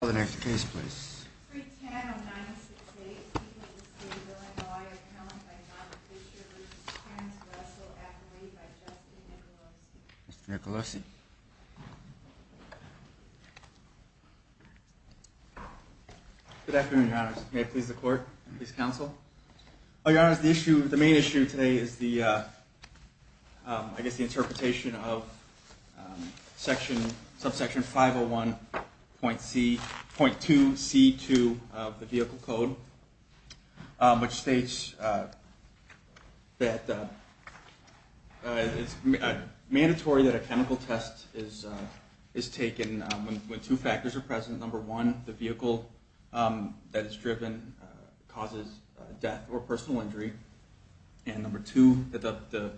for the next case, please. Nicolosi. Good afternoon, Your Honor. May it please the court, please? Counsel. Oh, your honor. The issue of the main issue today is the, uh, I guess the 501.2C2 of the vehicle code, which states that it's mandatory that a chemical test is taken when two factors are present. Number one, the vehicle that is driven causes death or personal injury. And number two, that the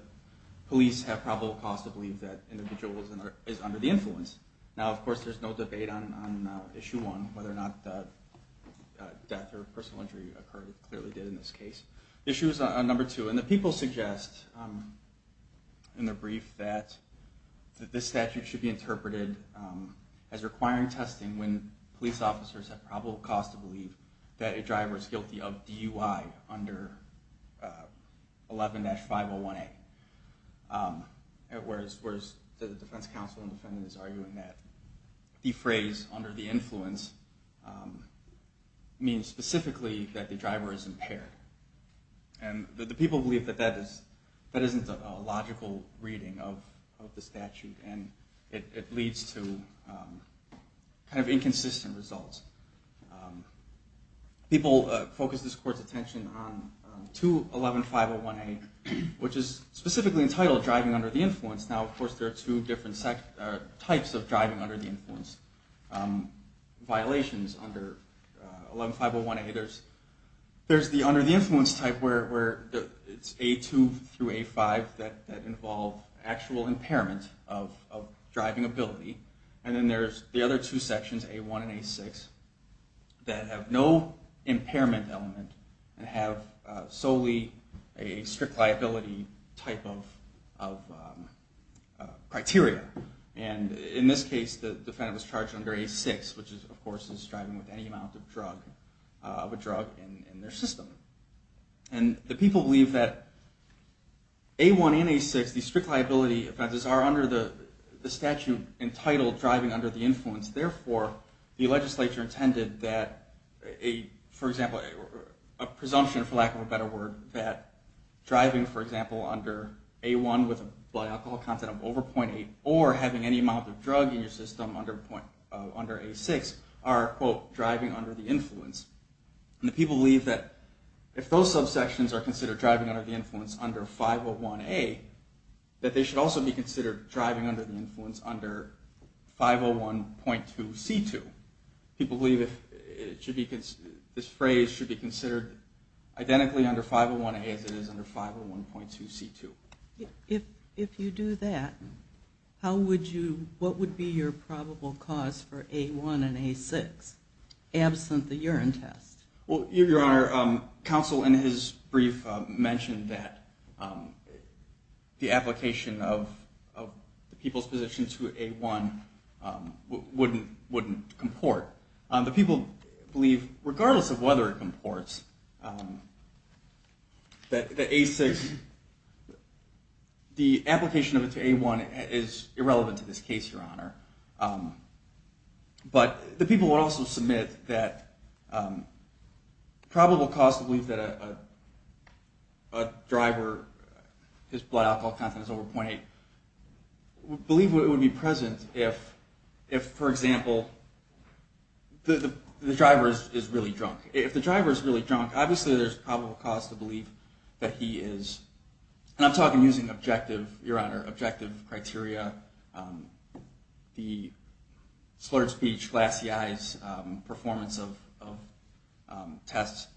police have probable cause to believe that individual is under the driver's guilty of DUI. Of course, there's no debate on issue one, whether or not the death or personal injury occurred, clearly did in this case. Issue number two, and the people suggest in their brief that this statute should be interpreted as requiring testing when police officers have probable cause to believe that a driver is guilty of DUI under 11-501A. Whereas the defense counsel and defendant is arguing that the phrase under the influence means specifically that the driver is impaired. And the people believe that that isn't a logical reading of the statute and it leads to kind of inconsistent results. People focus this court's attention on 2-11-501A, which is specifically entitled driving under the influence. Now, of course, there are two different types of driving under the influence violations under 11-501A. There's the under the influence type where it's A2 through A5 that involve actual impairment of driving ability. And then there's the other two sections, A1 and A6, that have no impairment element and have solely a strict liability type of criteria. And in this case, the defendant was charged under A6, which is, of course, is driving with any amount of a drug in their system. And the people believe that A1 and A6, these strict liability offenses, are under the statute entitled driving under the influence. Therefore, the legislature intended that, for example, a presumption, for lack of a better word, that driving, for example, under A1 with a blood alcohol content of over 0.8 or having any amount of drug in your system under A6 are, quote, driving under the influence. And the people believe that if those subsections are considered driving under the influence under 501A, that they should also be considered driving under the influence under 501.2C2. People believe that this phrase should be considered identically under 501A as it is under 501.2C2. If you do that, how would you, what would be your probable cause for A1 and A6, absent the urine test? Well, Your Honor, counsel in his brief mentioned that the application of people's position to A1 wouldn't comport. The people believe, regardless of whether it comports, that A6, the application of it to A1 is irrelevant to this case, Your Honor. But the people would also submit that probable cause to believe that a driver, his blood alcohol content is over 0.8, believe it would be present if, for example, the driver is really drunk. If the driver is really drunk, obviously there's a probable cause to believe that he is, and I'm talking using objective, Your Honor, objective criteria, the slurred speech, glassy eyes, performance of tests.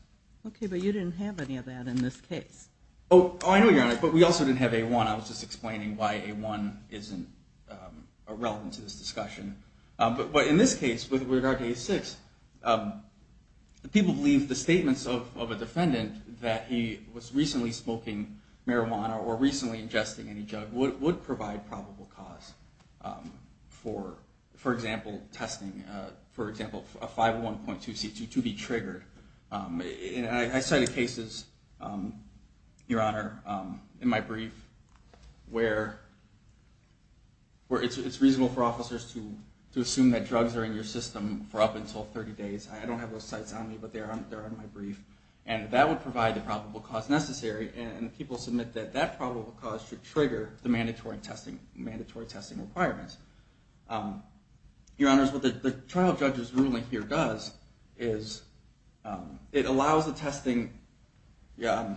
Okay, but you didn't have any of that in this case. Oh, I know, Your Honor, but we also didn't have A1. I was just explaining why A1 isn't irrelevant to this discussion. But in this case, with regard to A6, the people believe the statements of a defendant that he was recently smoking marijuana or recently ingesting any drug would provide probable cause for, for example, testing, for example, a 501.2C2 to be clear, where it's reasonable for officers to assume that drugs are in your system for up until 30 days. I don't have those sites on me, but they're on my brief. And that would provide the probable cause necessary. And people submit that that probable cause should trigger the mandatory testing, mandatory testing requirements. Your Honor, what the trial judge's ruling here does is it allows the testing, it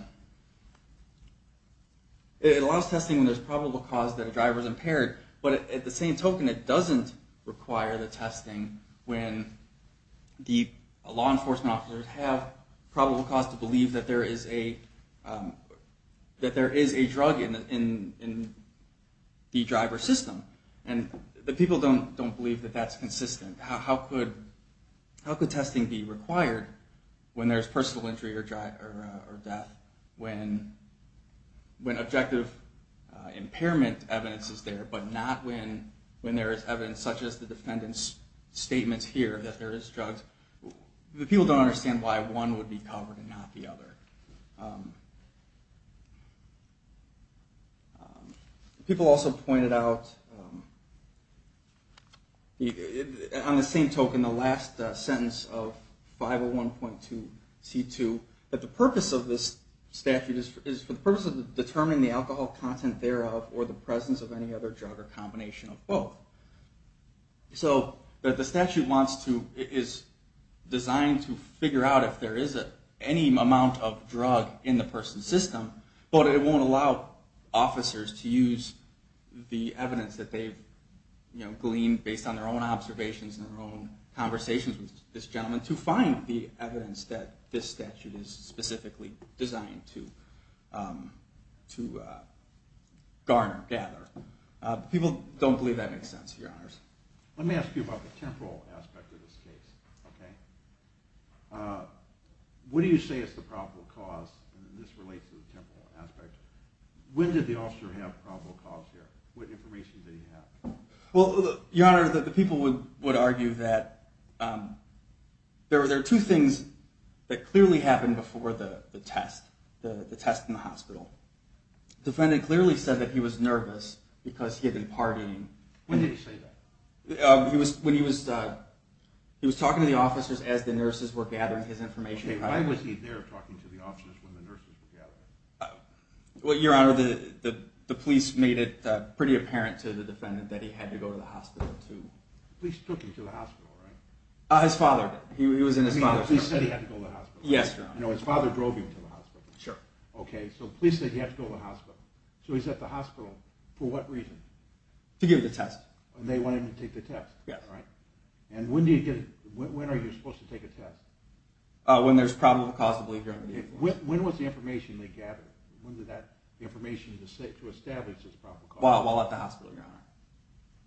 allows testing when there's a probable cause that a driver is impaired. But at the same token, it doesn't require the testing when the law enforcement officers have probable cause to believe that there is a, that there is a drug in the driver's system. And the people don't, don't believe that that's consistent. How could, how could testing be required when there's personal injury or death, when objective impairment evidence is there, but not when, when there is evidence such as the defendant's statements here that there is drugs. The people don't understand why one would be covered and not the other. People also pointed out, on the same token, in the last sentence of 501.2 C2, that the purpose of this statute is for the purpose of determining the alcohol content thereof or the presence of any other drug or combination of both. So the statute wants to, is designed to figure out if there is any amount of drug in the person's system, but it won't allow officers to use the evidence that they've gleaned based on their own observations and their own conversations with this gentleman to find the evidence that this statute is specifically designed to, to garner, gather. People don't believe that makes sense, Your Honors. Let me ask you about the temporal aspect of this case. Okay. What do you say is the probable cause? And this relates to the temporal aspect. When did the officer have probable cause here? What information did he have? Well, Your Honor, the people would argue that, um, there were, there are two things that clearly happened before the test, the test in the hospital. Defendant clearly said that he was nervous because he had been partying. When did he say that? He was, when he was, uh, he was talking to the officers as the nurses were gathering his information. Okay. Why was he there talking to the officers when the nurses were gathering? Well, Your Honor, the, the, the police made it pretty apparent to the defendant that he had to go to the hospital too. Police took him to the hospital, right? Uh, his father, he was in his father's car. He said he had to go to the hospital. Yes, Your Honor. No, his father drove him to the hospital. Sure. Okay. So police said he had to go to the hospital. So he's at the hospital for what reason? To give the test. And they wanted him to take the test. Yeah. Right. And when do you get, when are you supposed to take a test? Uh, when there's probable cause to believe you're under the influence. When was the information they gathered? When did that information to establish there's probable cause? While at the hospital, Your Honor.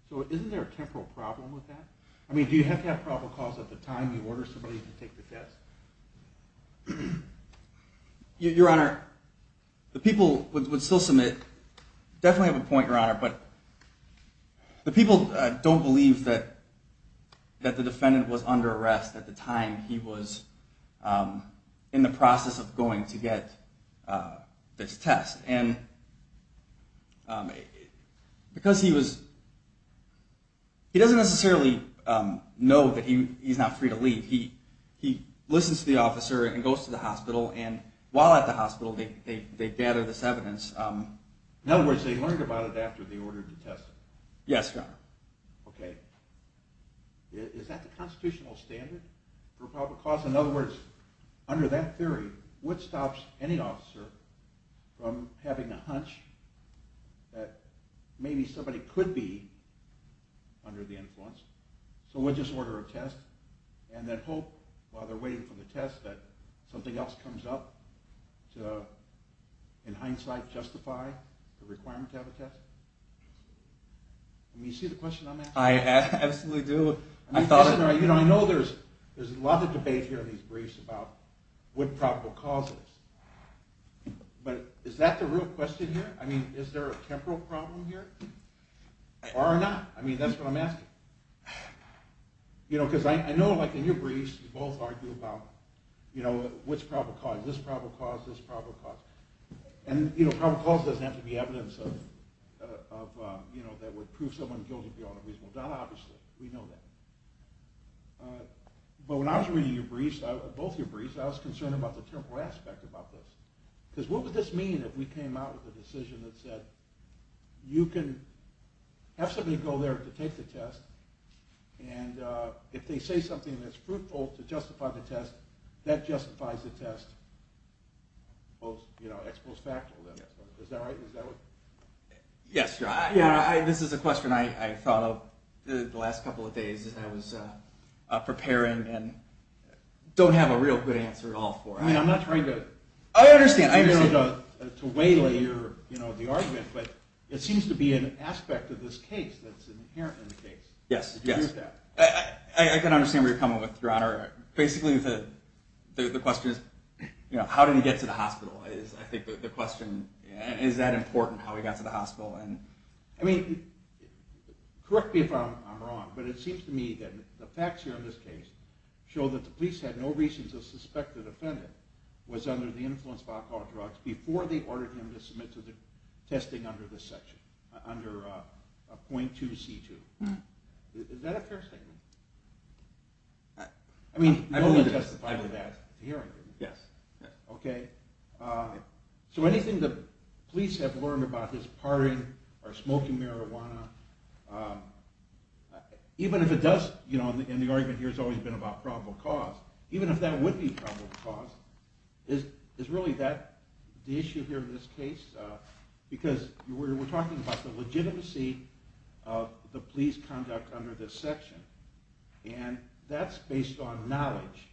So isn't there a temporal problem with that? I mean, do you have to have probable cause at the time you order somebody to take the test? You, Your Honor, the people would still submit, definitely have a point, Your Honor, but the people don't believe that, that the defendant was under arrest at the time he was, um, in the process of he was, he doesn't necessarily, um, know that he, he's not free to leave. He, he listens to the officer and goes to the hospital and while at the hospital, they, they, they gather this evidence. Um, in other words, they learned about it after they ordered the test. Yes, Your Honor. Okay. Is that the constitutional standard for probable cause? In other words, under that theory, what stops any officer from having a but it could be under the influence. So we'll just order a test and then hope while they're waiting for the test, that something else comes up to, in hindsight, justify the requirement to have a test. I mean, you see the question I'm asking? I absolutely do. I thought, you know, I know there's, there's a lot of debate here in these briefs about what probable causes, but is that the real question here? I mean, is there a or not? I mean, that's what I'm asking, you know, because I know like in your briefs, you both argue about, you know, what's probable cause, this probable cause, this probable cause. And, you know, probable cause doesn't have to be evidence of, of, um, you know, that would prove someone guilty beyond a reasonable doubt. Obviously we know that. But when I was reading your briefs, both your briefs, I was concerned about the temporal aspect about this, because what would this mean if we have somebody go there to take the test? And, uh, if they say something that's fruitful to justify the test, that justifies the test. Well, you know, it's post-factual then. Is that right? Is that what? Yes. Yeah. I, this is a question I thought of the last couple of days that I was, uh, uh, preparing and don't have a real good answer at all for. I mean, I'm not trying to, I understand, I understand to weigh your, you know, the argument, but it seems to be an aspect of this case that's inherent in the case. Yes. Yes. I can understand where you're coming with your honor. Basically the, the, the question is, you know, how did he get to the hospital? I think the question, is that important how he got to the hospital? And I mean, correct me if I'm wrong, but it seems to me that the facts here in this case show that the police had no reason to suspect the defendant was under the influence of alcohol and drugs before they ordered him to submit to the testing under this section, under a 0.2 C2. Is that a fair statement? I mean, you only testified to that hearing, didn't you? Yes. Okay. Uh, so anything the police have learned about his partying or smoking marijuana, um, even if it does, you know, and the argument here has always been about probable cause, even if that would be probable cause, is, is really that the issue here in this case? Uh, because we're, we're talking about the legitimacy of the police conduct under this section and that's based on knowledge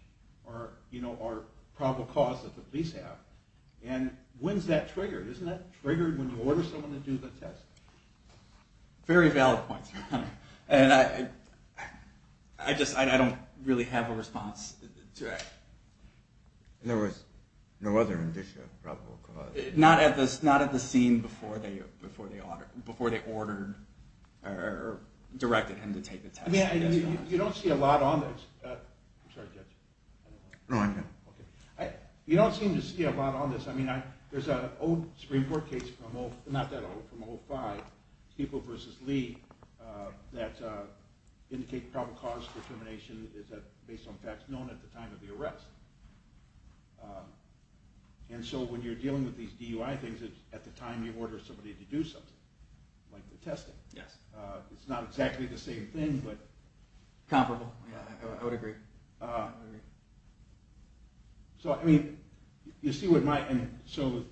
or, you know, or probable cause that the police have. And when's that triggered? Isn't that triggered when you order someone to do the test? Very valid points. And I, I just, I don't really have a response to it. There was no other indicia of probable cause. Not at this, not at the scene before they, before they ordered, before they ordered or directed him to take the test. I mean, you don't see a lot on this. Uh, I'm sorry, Judge. No, I can. Okay. I, you don't seem to see a lot on this. I mean, I, there's a old Supreme Court case from, not that old, from 05. People versus Lee, uh, that, uh, indicate probable cause determination is that based on facts known at the time of the arrest. Um, and so when you're dealing with these DUI things, it's at the time you order somebody to do something like the testing. Yes. Uh, it's not exactly the same thing, but comparable. Yeah, I would agree. Uh, so I mean, so,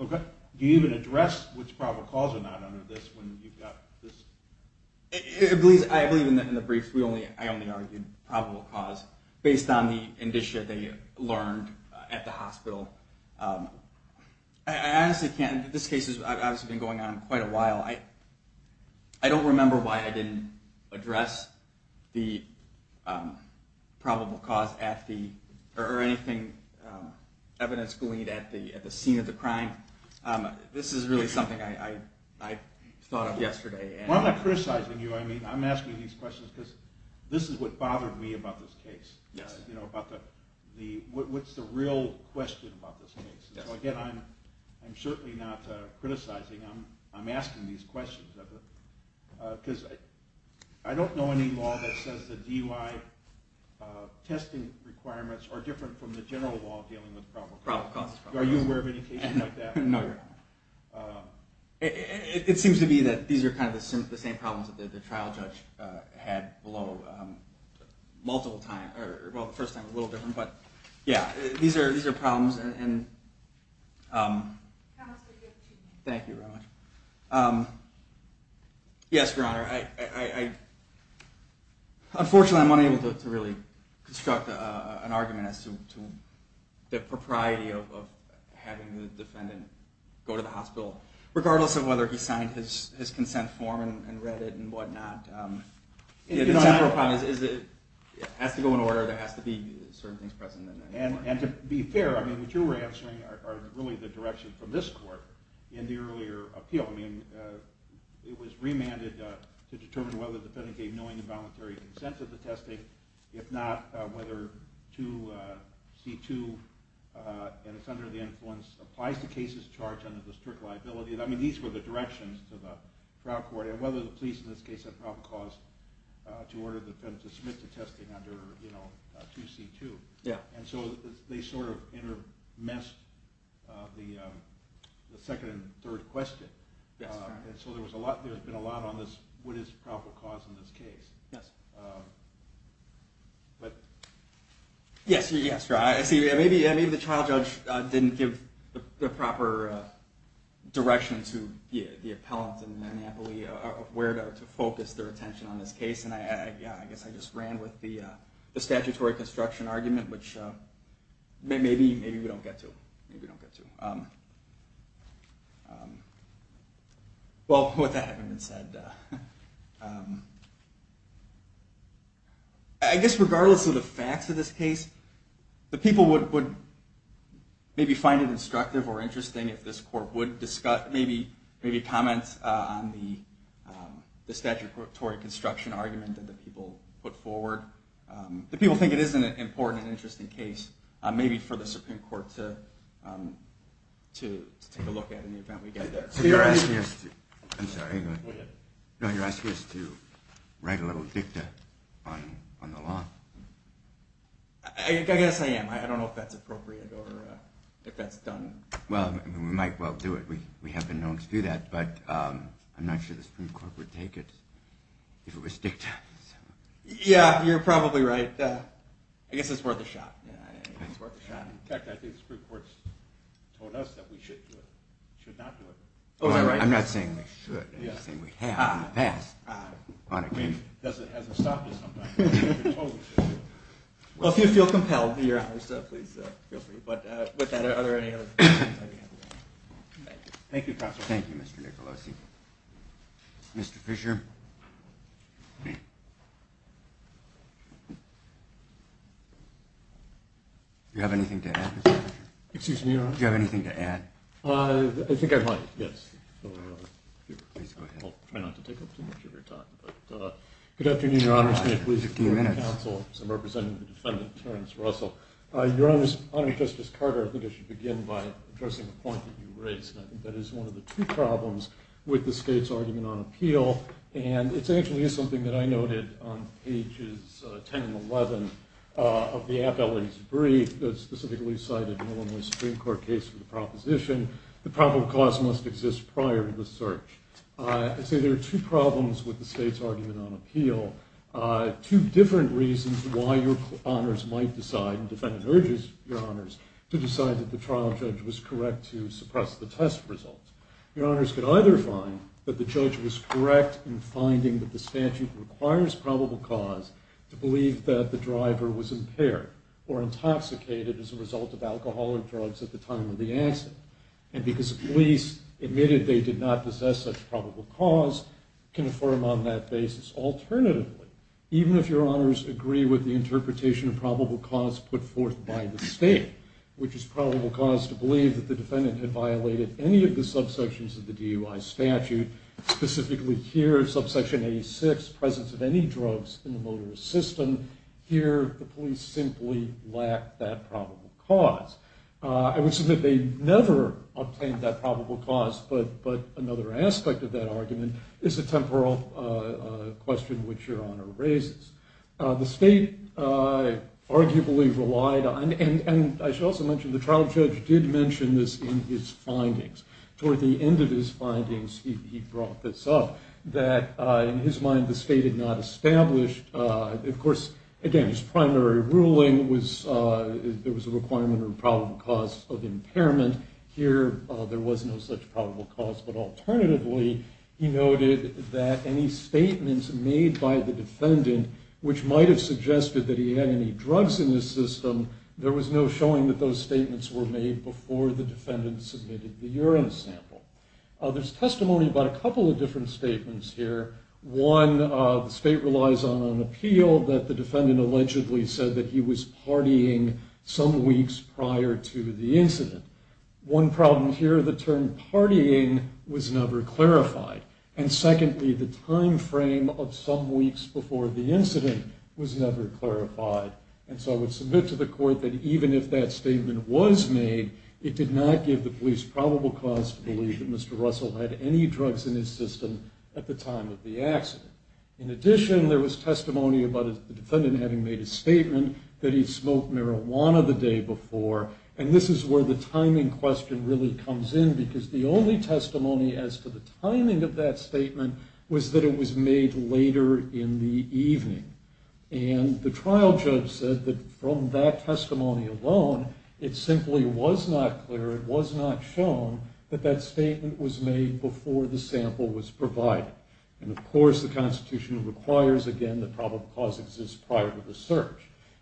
okay. Do you even address which probable cause or not under this when you've got this? I believe in the briefs, we only, I only argued probable cause based on the indicia that you learned at the hospital. Um, I honestly can't, this case has obviously been going on quite a while. I, I don't remember why I didn't address the, um, probable cause at the, or anything, um, evidence gleaned at the, at the scene of the crime. Um, this is really something I, I, I thought of yesterday. Well, I'm not criticizing you. I mean, I'm asking these questions because this is what bothered me about this case. Yes. You know, about the, the, what's the real question about this case? So again, I'm, I'm certainly not, uh, criticizing. I'm, I'm asking these questions, uh, because I don't know any law that says the DUI, uh, testing requirements are different from the general law dealing with probable cause. Are you aware of any cases like that? No. Um, it, it, it seems to be that these are kind of the same, the same problems that the trial judge, uh, had below, um, multiple times or, well, the first time was a little different, but yeah, these are, these are problems and, um, thank you very much. Um, yes, Your Honor. I, I, I, unfortunately I'm unable to really construct, uh, an argument as to, to the propriety of, of having the defendant go to the hospital, regardless of whether he signed his, his consent form and read it and whatnot. Um, it has to go in order. There has to be certain things present in there. And to be fair, I mean, what you were answering are really the direction from this court in the earlier appeal. I mean, uh, it was remanded, uh, to determine whether the defendant gave knowing and voluntary consent to the testing, if not, uh, whether to, uh, C2, uh, and it's under the influence applies to cases charged under the strict liability. And I mean, these were the directions to the trial court and whether the police in this case had probable cause, uh, to order the defendant to submit to testing under, you know, uh, two C2. Yeah. And so they sort of inter messed, uh, the, um, the second and third question. Uh, and so there was a lot, there's been a lot on this. What is probable cause in this case? Yes. Um, but yes. Yes. Right. I see. Yeah. Maybe, maybe the trial judge, uh, didn't give the proper, uh, direction to the appellant and the monopoly of where to focus their attention on this case. And I, I, yeah, I guess I just ran with the, uh, the statutory construction argument, which, uh, maybe, maybe we don't get to, maybe that hasn't been said, uh, um, I guess regardless of the facts of this case, the people would, would maybe find it instructive or interesting if this court would discuss, maybe, maybe comments, uh, on the, um, the statutory construction argument that the people put forward. Um, the people think it isn't an important and interesting case, uh, maybe for the Supreme Court to, um, to take a look at in the event we get there. So you're asking us to, I'm sorry. No, you're asking us to write a little dicta on, on the law. I guess I am. I don't know if that's appropriate or if that's done. Well, we might well do it. We, we have been known to do that, but, um, I'm not sure the Supreme Court would take it if it was dicta. Yeah, you're probably right. Uh, I guess it's worth a shot. It's worth a shot. I think the Supreme Court's told us that we should do it, should not do it. I'm not saying we should, I'm just saying we have in the past. I mean, it hasn't stopped us. Well, if you feel compelled to do your honors, please feel free. But, uh, with that, are there any other questions? Thank you. Thank you, Mr. Nicolosi. Mr. Fisher. Do you have anything to add, Mr. Fisher? Excuse me, your honor? Do you have anything to add? Uh, I think I might, yes. Please go ahead. I'll try not to take up too much of your time, but, uh, good afternoon, your honors. I'm representing the defendant, Terrence Russell. Uh, your honors, Honorary Justice Carter, I think I should begin by addressing the point that you raised. I think that is one of the two problems with the state's argument on appeal, and it's actually is something that I noted on pages 10 and 11, uh, of the appellate's brief that specifically cited an Illinois Supreme Court case for the proposition that probable cause must exist prior to the search. Uh, I'd say there are two problems with the state's argument on appeal, uh, two different reasons why your honors might decide, and the defendant urges your honors to decide that the trial judge was correct to suppress the test results. Your honors could either find that the judge was correct in was impaired or intoxicated as a result of alcoholic drugs at the time of the accident, and because the police admitted they did not possess such probable cause, can affirm on that basis. Alternatively, even if your honors agree with the interpretation of probable cause put forth by the state, which is probable cause to believe that the defendant had violated any of the subsections of the DUI statute, specifically here, subsection 86, presence of any drugs in the motorist system, here, the police simply lacked that probable cause. Uh, I would say that they never obtained that probable cause, but, but another aspect of that argument is a temporal, uh, uh, question which your honor raises. Uh, the state, uh, arguably relied on, and, and I should also mention the trial judge did mention this in his findings. Toward the end of his findings, he, he brought this up that, uh, in his mind, the state had not established, uh, of course, again, his primary ruling was, uh, there was a requirement of probable cause of impairment. Here, uh, there was no such probable cause, but alternatively, he noted that any statements made by the defendant, which might've suggested that he had any drugs in his system, there was no showing that those statements were made before the defendant submitted the urine sample. Uh, there's testimony about a couple of different statements here. One, uh, the state relies on an appeal that the defendant allegedly said that he was partying some weeks prior to the incident. One problem here, the term partying was never clarified. And secondly, the time frame of some weeks before the incident was never clarified. And so I would submit to the court that even if that statement was made, it did not give the least probable cause to believe that Mr. Russell had any drugs in his system at the time of the accident. In addition, there was testimony about the defendant having made a statement that he smoked marijuana the day before. And this is where the timing question really comes in, because the only testimony as to the timing of that statement was that it was made later in the evening. And the trial judge said that from that testimony alone, it was not shown that that statement was made before the sample was provided. And of course, the Constitution requires, again, that probable cause exists prior to the search.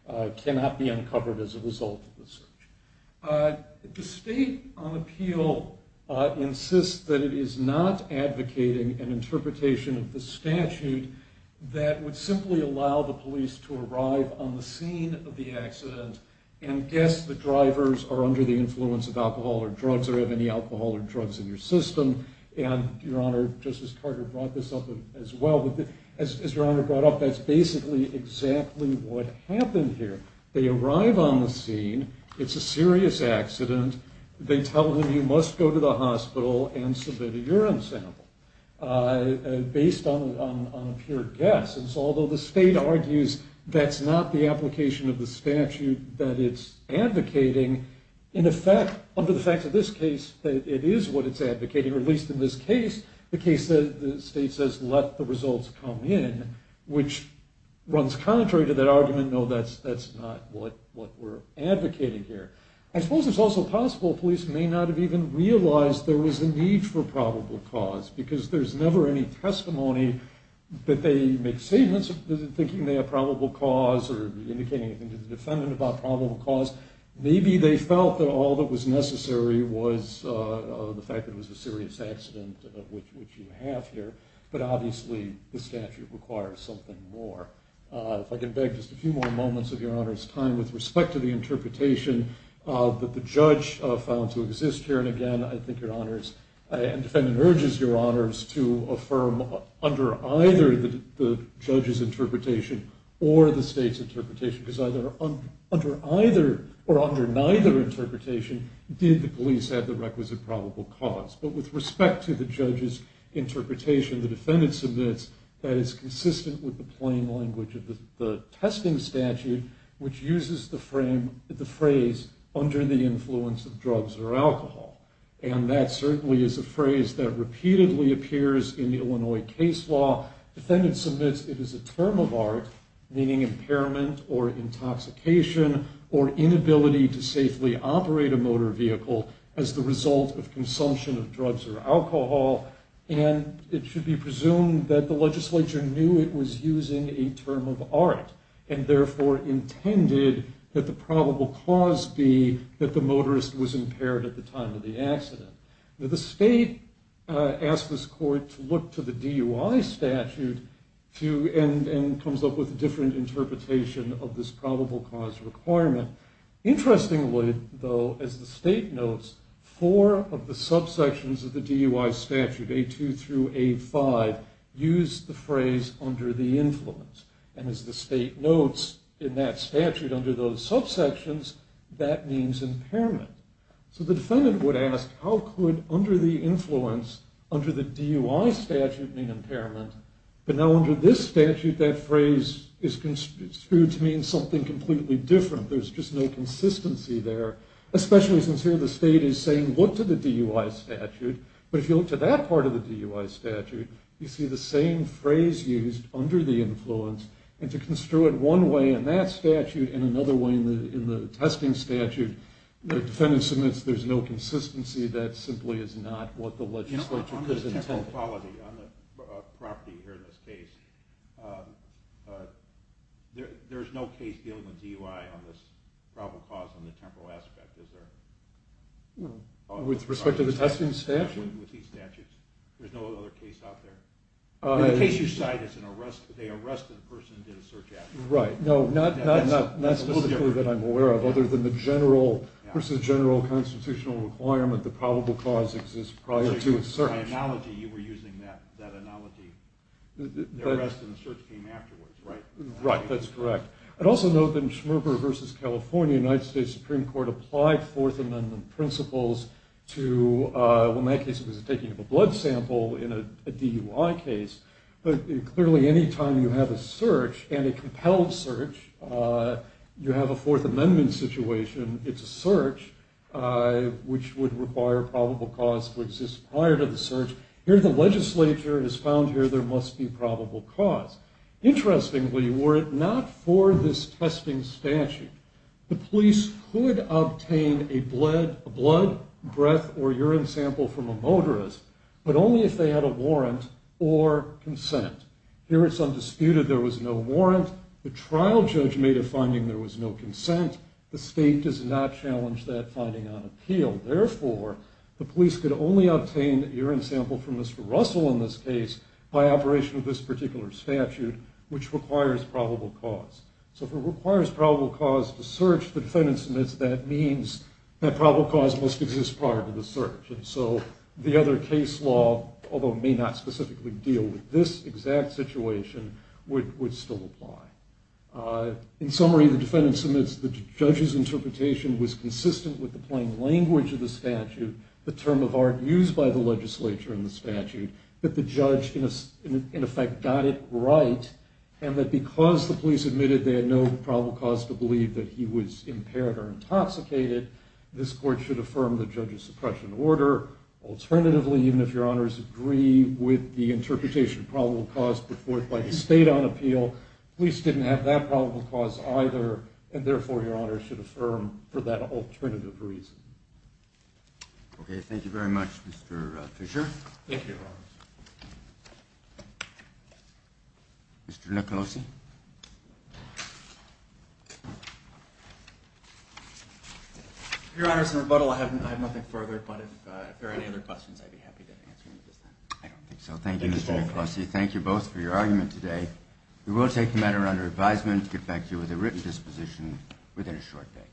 Uh, it cannot be uncovered as a result of the search. Uh, the state on appeal, uh, insists that it is not advocating an interpretation of the statute that would simply allow the police to arrive on the scene of the accident and guess the drivers are under the alcohol or drugs in your system. And Your Honor, Justice Carter brought this up as well. But as Your Honor brought up, that's basically exactly what happened here. They arrive on the scene. It's a serious accident. They tell him he must go to the hospital and submit a urine sample, uh, based on a pure guess. And so although the state argues that's not the application of the statute that it's advocating, in effect, under the facts of this case, that it is what it's advocating, or at least in this case, the case that the state says, let the results come in, which runs contrary to that argument. No, that's that's not what what we're advocating here. I suppose it's also possible police may not have even realized there was a need for probable cause because there's never any testimony that they make statements thinking they have probable cause or indicating anything to the defendant about probable cause. Maybe they felt that all that was necessary was the fact that it was a serious accident, which you have here. But obviously, the statute requires something more. If I can beg just a few more moments of Your Honor's time with respect to the interpretation that the judge found to exist here. And again, I think Your Honors and defendant urges Your Honors to affirm under either the judge's interpretation or the state's interpretation, because either under either or under neither interpretation, did the police have the requisite probable cause. But with respect to the judge's interpretation, the defendant submits that it's consistent with the plain language of the testing statute, which uses the frame of the phrase under the influence of drugs or alcohol. And that certainly is a phrase that appears in the Illinois case law. Defendant submits it is a term of art, meaning impairment or intoxication or inability to safely operate a motor vehicle as the result of consumption of drugs or alcohol. And it should be presumed that the legislature knew it was using a term of art and therefore intended that the probable cause be that the motorist was impaired at the time of the accident. Now the state asked this court to look to the DUI statute and comes up with a different interpretation of this probable cause requirement. Interestingly, though, as the state notes, four of the subsections of the DUI statute, A2 through A5, use the phrase under the influence. And as the state notes in that statute under those subsections, that means impairment. So the defendant would ask, how could under the influence, under the DUI statute mean impairment? But now under this statute, that phrase is construed to mean something completely different. There's just no consistency there, especially since here the state is saying look to the DUI statute. But if you look to that part of the DUI statute, you see the same phrase used under the influence. And to construe it one way in that testing statute, the defendant submits there's no consistency. That simply is not what the legislature is intending. On the temporal quality, on the property here in this case, there's no case dealing with DUI on this probable cause on the temporal aspect, is there? With respect to the testing statute? With these statutes. There's no other case out there. In the case you cite, it's an arrest. They arrest the person who did a search after them. Right. No, not specifically that I'm aware of, other than the general versus general constitutional requirement the probable cause exists prior to a search. By analogy, you were using that analogy. The arrest and the search came afterwards, right? Right, that's correct. I'd also note that in Schmerber v. California, the United States Supreme Court applied Fourth Amendment principles to, well in that case it was a taking of a blood sample in a DUI case. But clearly any time you have a search, and a compelled search, you have a Fourth Amendment situation, it's a search, which would require probable cause to exist prior to the search. Here the legislature has found here there must be probable cause. Interestingly, were it not for this testing statute, the police could obtain a blood, breath, or urine sample from a motorist, but only if they warrant or consent. Here it's undisputed there was no warrant. The trial judge made a finding there was no consent. The state does not challenge that finding on appeal. Therefore, the police could only obtain urine sample from Mr. Russell in this case by operation of this particular statute, which requires probable cause. So if it requires probable cause to search, the defendant submits that means that probable cause must exist prior to the search. And so the other case law, although may not specifically deal with this exact situation, would still apply. In summary, the defendant submits the judge's interpretation was consistent with the plain language of the statute, the term of art used by the legislature in the statute, that the judge in effect got it right, and that because the police admitted they had no probable cause to believe that he was impaired or intoxicated, this court should affirm the judge's suppression order. Alternatively, even if your honors agree with the interpretation of probable cause before by the state on appeal, police didn't have that probable cause either. And therefore, your honors should affirm for that alternative reason. Okay, thank you very much, Mr. Fisher. Thank you. Mr. Nicolosi. Your honors, in rebuttal, I have nothing further, but if there are any other questions, I'd be happy to answer them. I don't think so. Thank you, Mr. Nicolosi. Thank you both for your argument today. We will take the matter under advisement to get back to you with a written disposition within a short day.